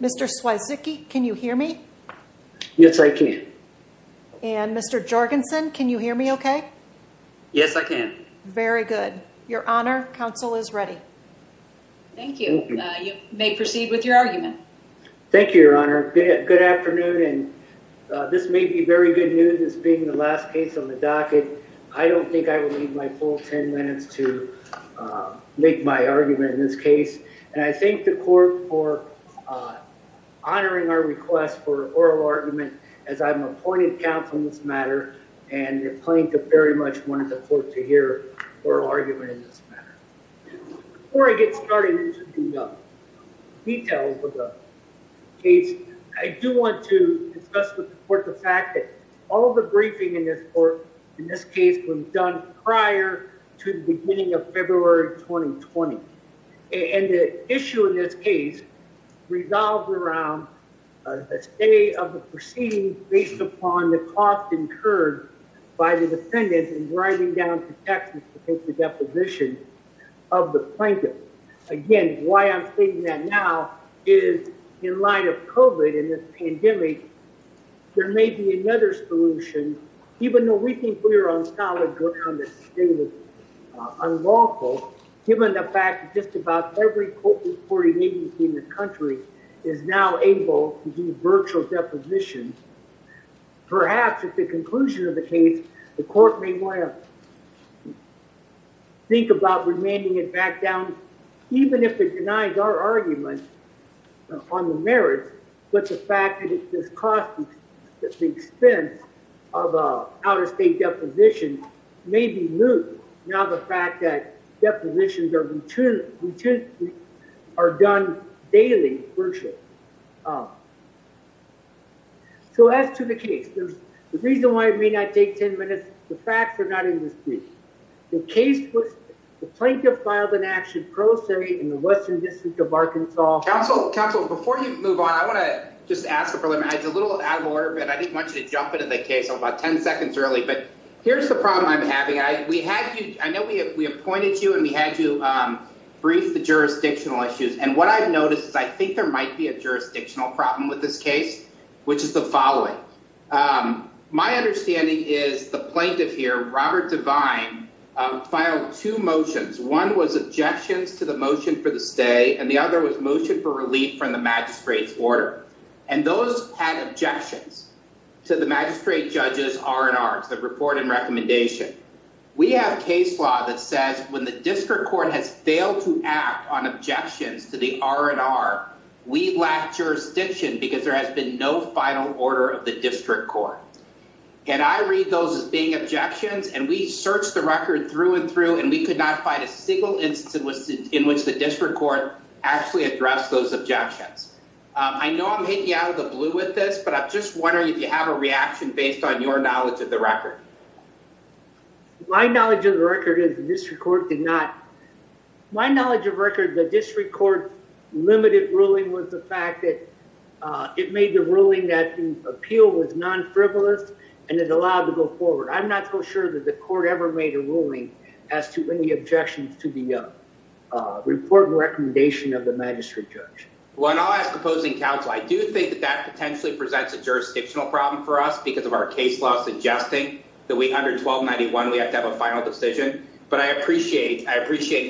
Mr. Swayzecki, can you hear me? Yes, I can. And Mr. Jorgensen, can you hear me okay? Yes, I can. Very good. Your Honor, counsel is ready. Thank you. You may proceed with your argument. Thank you, Your Honor. Good afternoon, and this may be very good news, this being the last case on the docket. I don't think I will need my full 10 minutes to make my argument in this case, and I thank the court for honoring our request for oral argument, as I'm appointed counsel in this matter, and the plaintiff very much wanted the court to hear oral argument in this matter. Before I get started into the details of the case, I do want to discuss with the court the fact that all the briefing in this court, in this case, was done prior to the beginning of February 2020, and the issue in this case revolves around the state of the proceeding based upon the cost incurred by the defendant in driving down to Texas to take the deposition of the plaintiff. Again, why I'm stating that now is in light of COVID and this pandemic, there may be another solution, even though we think we are on solid ground that today was unlawful, given the fact that just about every court reporting agency in the country is now able to do virtual depositions. Perhaps at the conclusion of the case, the court may want to think about remanding it back down, even if it denies our argument on the merits, but the fact that it's costing the expense of an out-of-state deposition may be moved, now the fact that depositions are done daily, virtually. So as to the case, the reason why it may not take 10 minutes, the facts are not in this case. The case was the plaintiff filed an action pro se in the western district of Arkansas. Counsel, before you move on, I want to just ask a little out of order bit. I didn't want you to jump into the case about 10 seconds early, but here's the problem I'm having. I know we appointed you and we had you brief the jurisdictional issues, and what I've noticed is I think there might be a jurisdictional problem with this case, which is the following. My understanding is the plaintiff here, Robert Devine, filed two motions. One was objections to the motion for the stay, and the other was motion for relief from the magistrate's order, and those had objections to the magistrate judge's R&R, the report and recommendation. We have case law that says when the district court has failed to act on objections to the R&R, we've lacked jurisdiction because there has been no final order of the district court, and I read those as being objections, and we searched the record through and through, and we could not find a single instance in which the district court actually addressed those objections. I know I'm hitting you out of the blue with this, but I'm just wondering if you have a reaction based on your knowledge of the record. My knowledge of the record is the district court did not. My knowledge of record, the district court's limited ruling was the fact that it made the ruling that the appeal was non-frivolous and it allowed to go forward. I'm not so sure that the court ever made a ruling as to any objections to the report and recommendation of the magistrate judge. Well, and I'll ask opposing counsel. I do think that that potentially presents a jurisdictional problem for us because of our case law suggesting that under 1291, we have to have a final decision, but I appreciate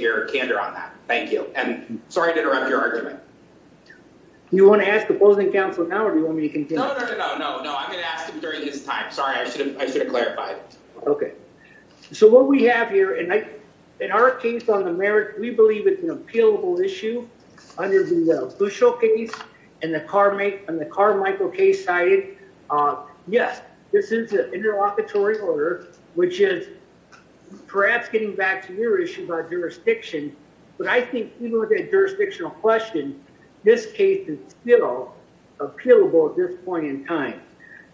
your candor on that. Thank you, and sorry to interrupt your argument. You want to ask opposing counsel now, or do you want me to continue? No, no, no, no, no. I'm going to ask him during this time. Sorry, I should have clarified it. Okay, so what we have here, and in our case on the merits, we believe it's an appealable issue under the Bushel case and the Carmichael case cited. Yes, this is an interlocutory order, which is perhaps getting back to your issue about jurisdiction, but I think even with that jurisdictional question, this case is still appealable at this point in time.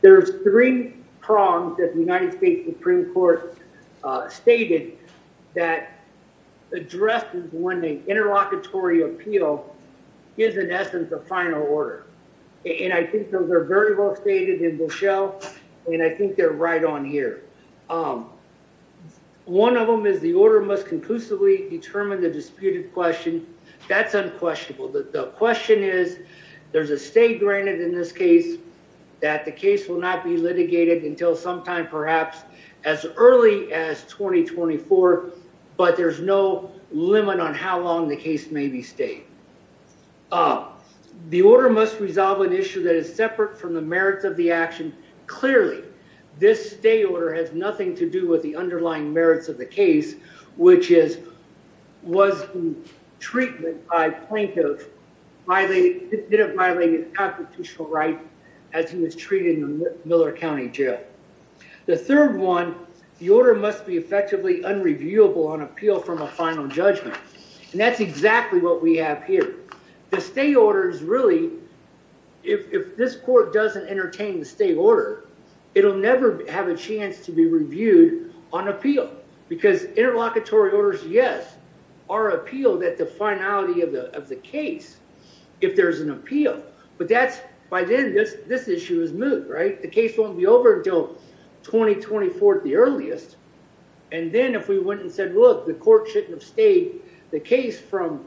There's three prongs that the United States Supreme Court stated that addresses when an interlocutory appeal is, in essence, a final order, and I think those are very well stated in Bushel, and I think they're right on here. One of them is the order must conclusively determine the disputed question. That's unquestionable. The question is there's a state granted in this case that the case will not be litigated until sometime perhaps as early as 2024, but there's no limit on how long the case may be stayed. The order must resolve an issue that is separate from the merits of the action. Clearly, this stay order has nothing to do with the underlying merits of the case, which is was the treatment by plaintiff violated, did it violate his constitutional right as he was treated in the Miller County Jail? The third one, the order must be effectively unreviewable on appeal from a final judgment, and that's exactly what we have here. The stay order is really, if this court doesn't entertain the stay order, it'll never have a chance to be reviewed on appeal because interlocutory orders, yes, are appealed at the finality of the case if there's an appeal, but that's, by then, this issue is moved, right? The case won't be over until 2024 at the earliest, and then if we went and said, look, the court shouldn't have stayed the case from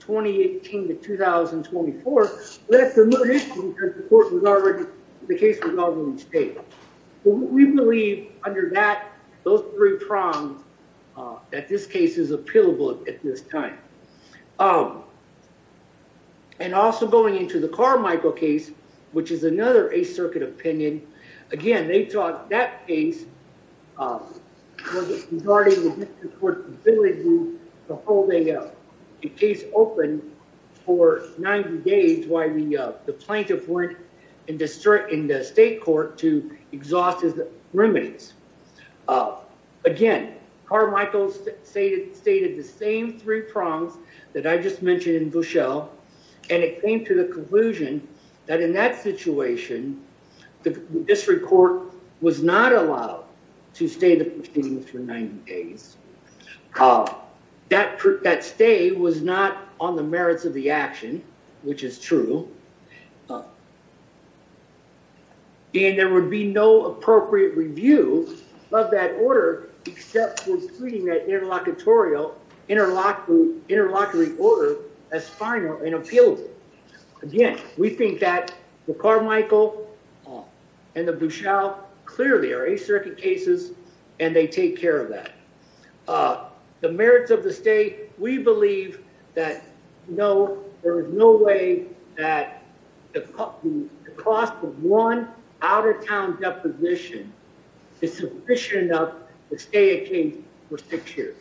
2018 to 2024, that's another issue because the case was already stayed. We believe under that, those three prongs, that this case is appealable at this time. And also going into the Carmichael case, which is another Eighth Circuit opinion, again, they thought that case was regarding the district court's ability to hold a case open for 90 days while the plaintiff went in the state court to exhaust his remedies. Again, Carmichael stated the same three prongs that I just mentioned in Bushell, and it came to the conclusion that in that situation, the district court was not allowed to stay the proceedings for 90 days. That stay was not on the merits of the action, which is true, and there would be no appropriate review of that order except for treating that interlocutorial interlocutory order as final and appealable. Again, we think that the Carmichael and the Bushell clearly are Eighth Circuit cases, and they take care of that. The merits of the stay, we believe that there is no way that the cost of one out-of-town deposition is sufficient enough to stay a case for six years.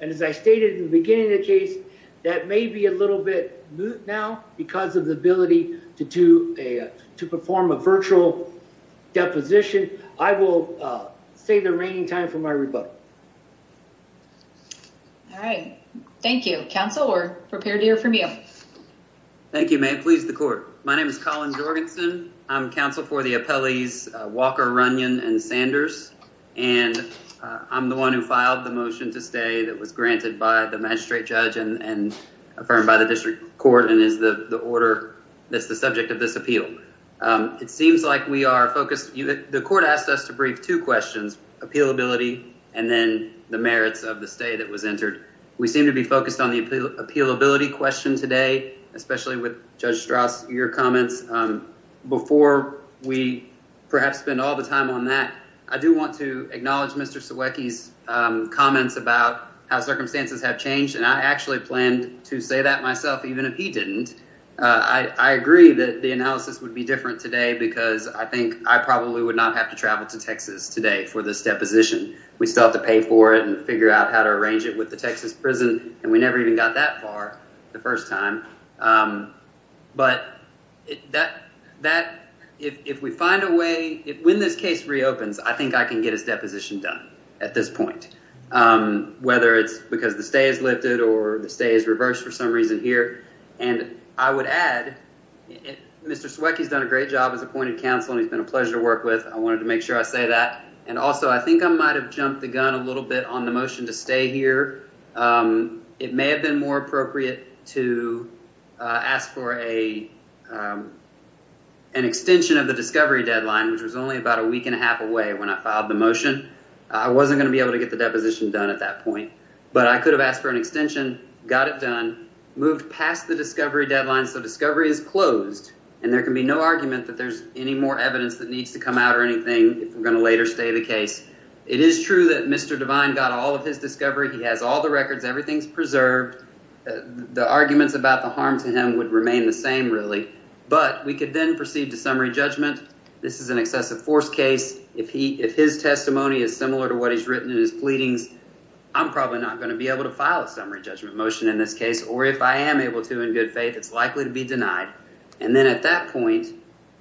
And as I stated in the beginning of the case, that may be a little bit moot now because of the ability to perform a virtual deposition. I will save the reigning time for my rebuttal. All right. Thank you. Counsel, we're prepared to hear from you. Thank you, ma'am. Please, the court. My name is Colin Jorgensen. I'm counsel for the appellees Walker, Runyon, and Sanders, and I'm the one who filed the motion to stay that was granted by the magistrate judge and affirmed by the district court and is the order that's the subject of this appeal. It seems like we are focused. The court asked us to brief two questions, appealability and then the merits of the stay that was entered. We seem to be focused on the appealability question today, especially with Judge Strauss, your comments. Before we perhaps spend all the time on that, I do want to acknowledge Mr. Siewiecki's comments about how circumstances have changed, and I actually planned to say that myself, even if he didn't. I agree that the analysis would be different today because I think I probably would not have traveled to Texas today for this deposition. We still have to pay for it and figure out how to arrange it with the Texas prison, and we never even got that far the first time, but if we find a way, when this case reopens, I think I can get his deposition done at this point, whether it's because the stay is lifted or the stay is reversed for some reason here, and I would add Mr. Siewiecki has done a great job as appointed counsel, and he's been a pleasure to work with. I wanted to make sure I say that, and also I think I might have jumped the gun a little bit on the motion to stay here. It may have been more appropriate to ask for an extension of the discovery deadline, which was only about a week and a half away when I filed the motion. I wasn't going to be able to get the deposition done at that point, but I could have asked for an extension, got it done, moved past the discovery deadline, so discovery is closed, and there can be no argument that there's any more evidence that needs to come out or anything if we're going to later stay the case. It is true that Mr. Devine got all of his discovery. He has all the records. Everything's preserved. The arguments about the harm to him would remain the same, really, but we could then proceed to summary judgment. This is an excessive force case. If his testimony is similar to what he's written in his pleadings, I'm probably not going to be able to file a summary judgment motion in this case, or if I am able to, in good faith, it's likely to be denied, and then at that point,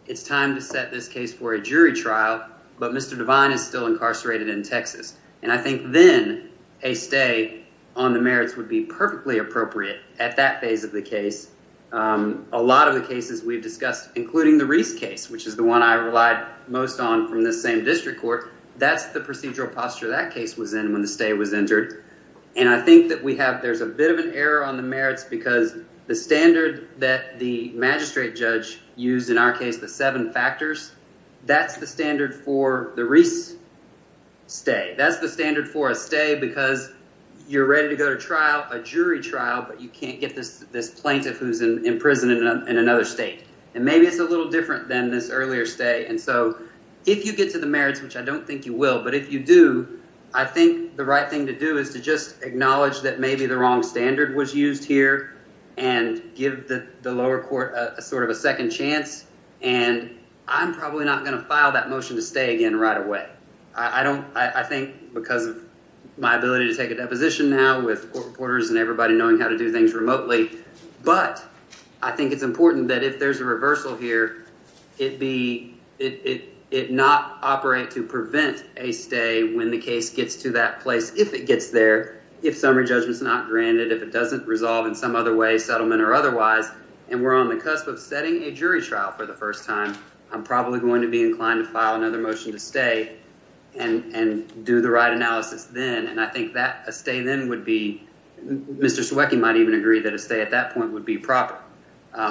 it's time to set this case for a jury trial, but Mr. Devine is still incarcerated in Texas, and I think then a stay on the merits would be perfectly appropriate at that phase of the case. A lot of the cases we've discussed, including the Reese case, which is the one I relied most on from this same district court, that's the procedural posture that case was in when the stay was entered, and I think that there's a bit of an error on the merits because the standard that the magistrate judge used in our case, the seven factors, that's the standard for the Reese stay. That's the standard for a stay because you're ready to go to trial, a jury trial, but you can't get this plaintiff who's in prison in another state, and maybe it's a little different than this earlier stay, and so if you get to the merits, which I don't think you will, but if you do, I think the right thing to do is to just acknowledge that maybe the wrong standard was used here and give the lower court a sort of a second chance, and I'm probably not going to file that motion to stay again right away. I think because of my ability to take a deposition now with court reporters and everybody knowing how to do things remotely, but I think it's important that if there's a reversal here, it not operate to prevent a stay when the case gets to that place if it gets there, if summary judgment's not granted, if it doesn't resolve in some other way, settlement or otherwise, and we're on the cusp of setting a jury trial for the first time, I'm probably going to be inclined to file another motion to stay and do the right analysis then, and I think that a stay then would be, Mr. Ciewecki might even agree that a stay at that would be proper.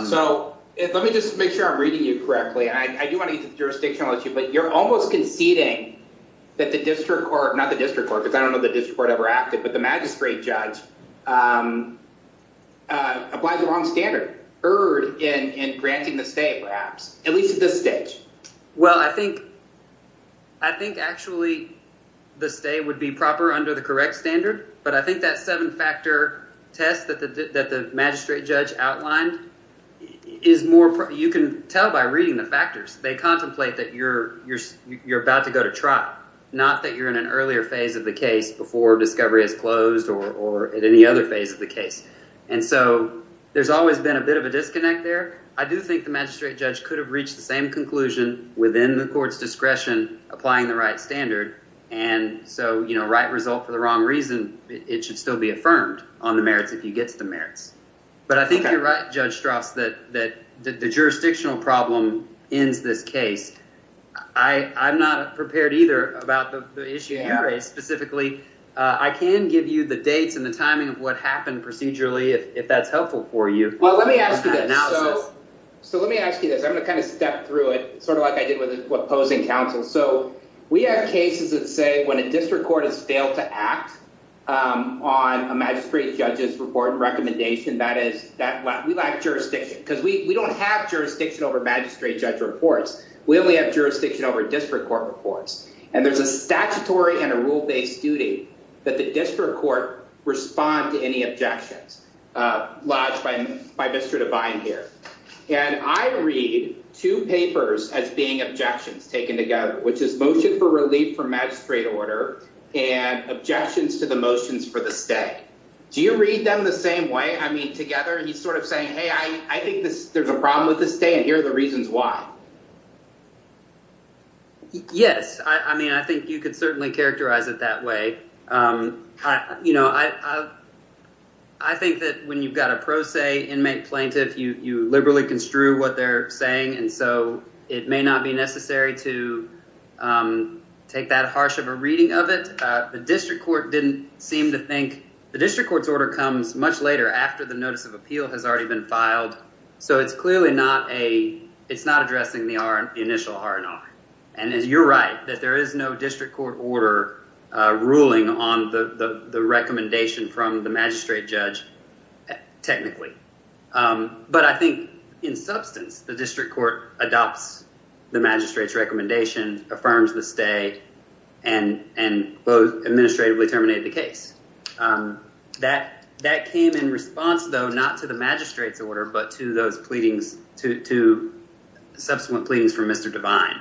So let me just make sure I'm reading you correctly. I do want to get to the jurisdictional issue, but you're almost conceding that the district court, not the district court, because I don't know the district court ever acted, but the magistrate judge applies a wrong standard, erred in granting the stay perhaps, at least at this stage. Well, I think actually the stay would be proper under the correct standard, but I think that seven-factor test that the magistrate judge outlined is more, you can tell by reading the factors, they contemplate that you're about to go to trial, not that you're in an earlier phase of the case before discovery is closed or at any other phase of the case, and so there's always been a bit of a disconnect there. I do think the magistrate judge could have reached the same conclusion within the court's discretion applying the right standard, and so, you know, right result for the on the merits if he gets the merits. But I think you're right, Judge Strauss, that the jurisdictional problem ends this case. I'm not prepared either about the issue of ingray specifically. I can give you the dates and the timing of what happened procedurally if that's helpful for you. Well, let me ask you that. So let me ask you this. I'm going to kind of step through it sort of like I did with opposing counsel. So we have cases that say when a district court has failed to act on a magistrate judge's report and recommendation, that is that we lack jurisdiction because we don't have jurisdiction over magistrate judge reports. We only have jurisdiction over district court reports, and there's a statutory and a rule-based duty that the district court respond to any objections lodged by Mr. Devine here, and I read two papers as being objections taken together, which is motion for relief from magistrate order and objections to the motions for the stay. Do you read them the same way? I mean, together, he's sort of saying, hey, I think there's a problem with the stay, and here are the reasons why. Yes, I mean, I think you could certainly characterize it that way. You know, I think that when you've got a pro se inmate plaintiff, you liberally construe what they're saying, and so it may not be necessary to take that harsh of a reading of it. The district court didn't seem to think, the district court's order comes much later after the notice of appeal has already been filed, so it's clearly not a, it's not addressing the initial R&R, and you're right that there is no district court order ruling on the recommendation from the magistrate judge technically, but I think in substance, the district court adopts the magistrate's recommendation, affirms the stay, and both administratively terminated the case. That came in response, though, not to the magistrate's order, but to those pleadings, to subsequent pleadings from Mr. Devine,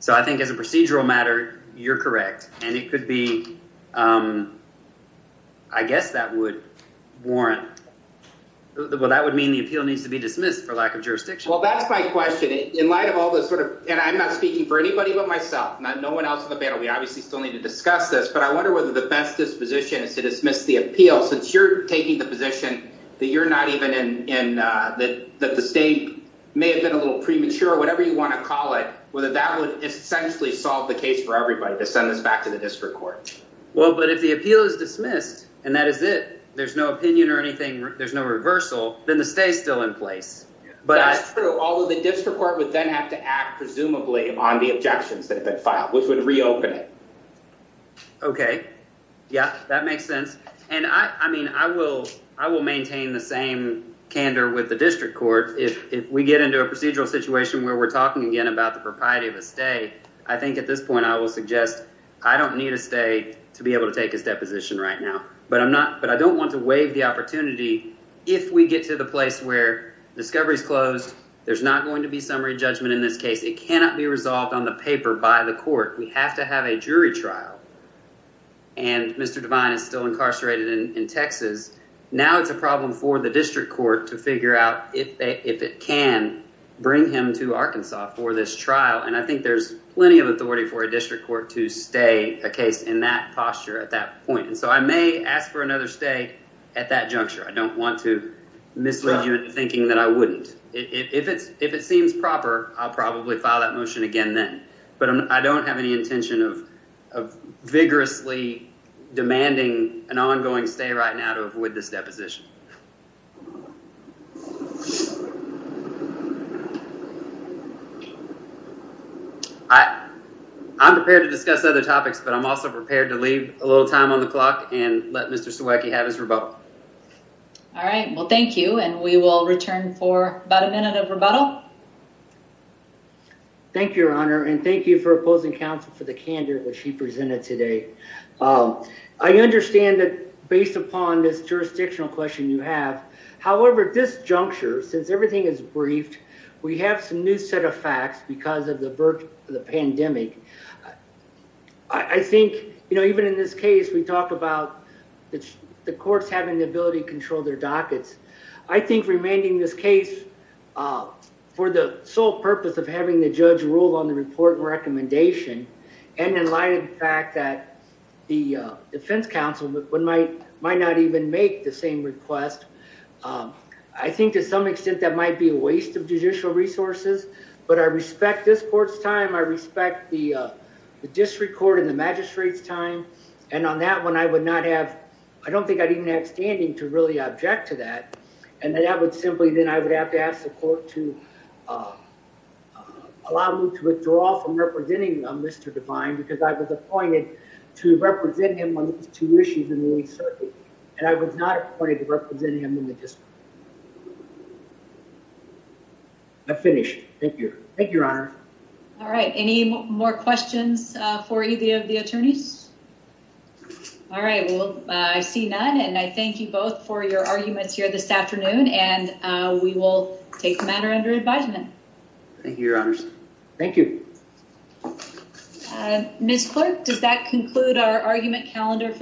so I think as a procedural matter, you're correct, and it could be, I guess that would warrant, well, that would mean the appeal needs to be dismissed for lack of jurisdiction. Well, that's my question. In light of all this sort of, and I'm not speaking for anybody but myself, no one else in the panel. We obviously still need to discuss this, but I wonder whether the best disposition is to dismiss the appeal since you're taking the position that you're not even in, that the state may have been a little back to the district court. Well, but if the appeal is dismissed and that is it, there's no opinion or anything, there's no reversal, then the stay's still in place. That's true, although the district court would then have to act presumably on the objections that have been filed, which would reopen it. Okay, yeah, that makes sense, and I mean, I will maintain the same candor with the district court if we get into a procedural situation where we're talking again about the propriety of a stay, I think at this point I will suggest I don't need a stay to be able to take his deposition right now, but I don't want to waive the opportunity if we get to the place where discovery's closed. There's not going to be summary judgment in this case. It cannot be resolved on the paper by the court. We have to have a jury trial, and Mr. Devine is still incarcerated in Texas. Now it's a problem for district court to figure out if it can bring him to Arkansas for this trial, and I think there's plenty of authority for a district court to stay a case in that posture at that point, and so I may ask for another stay at that juncture. I don't want to mislead you into thinking that I wouldn't. If it seems proper, I'll probably file that motion again then, but I don't have any intention of vigorously demanding an ongoing stay right now to avoid this deposition. I'm prepared to discuss other topics, but I'm also prepared to leave a little time on the clock and let Mr. Sawecki have his rebuttal. All right, well thank you, and we will return for about a minute of rebuttal. Thank you, your honor, and thank you for opposing counsel for the candor that she presented today. I understand that based upon this jurisdictional question you have, however, this juncture, since everything is briefed, we have some new set of facts because of the pandemic. I think, you know, even in this case, we talk about the courts having the ability to control their dockets. I think remanding this case for the sole purpose of having the judge rule on the report and recommendation, and in light of the fact that the defense counsel might not even make the same request, I think to some extent that might be a waste of judicial resources, but I respect this court's time. I respect the district court and the magistrate's time, and on that one, I would not have, I don't think I'd even have standing to really object to that, and that would simply, then I would have to ask the court to allow me to withdraw from representing Mr. Devine because I was appointed to represent him on these two issues in the league circuit, and I was not appointed to represent him in the district. I'm finished. Thank you. Thank you, your honor. All right, any more questions for either of the attorneys? All right, well, I see none, and I thank you both for your arguments here this afternoon, and we will take the matter under advisement. Thank you, your honors. Thank you. Ms. Clerk, does that conclude our argument calendar for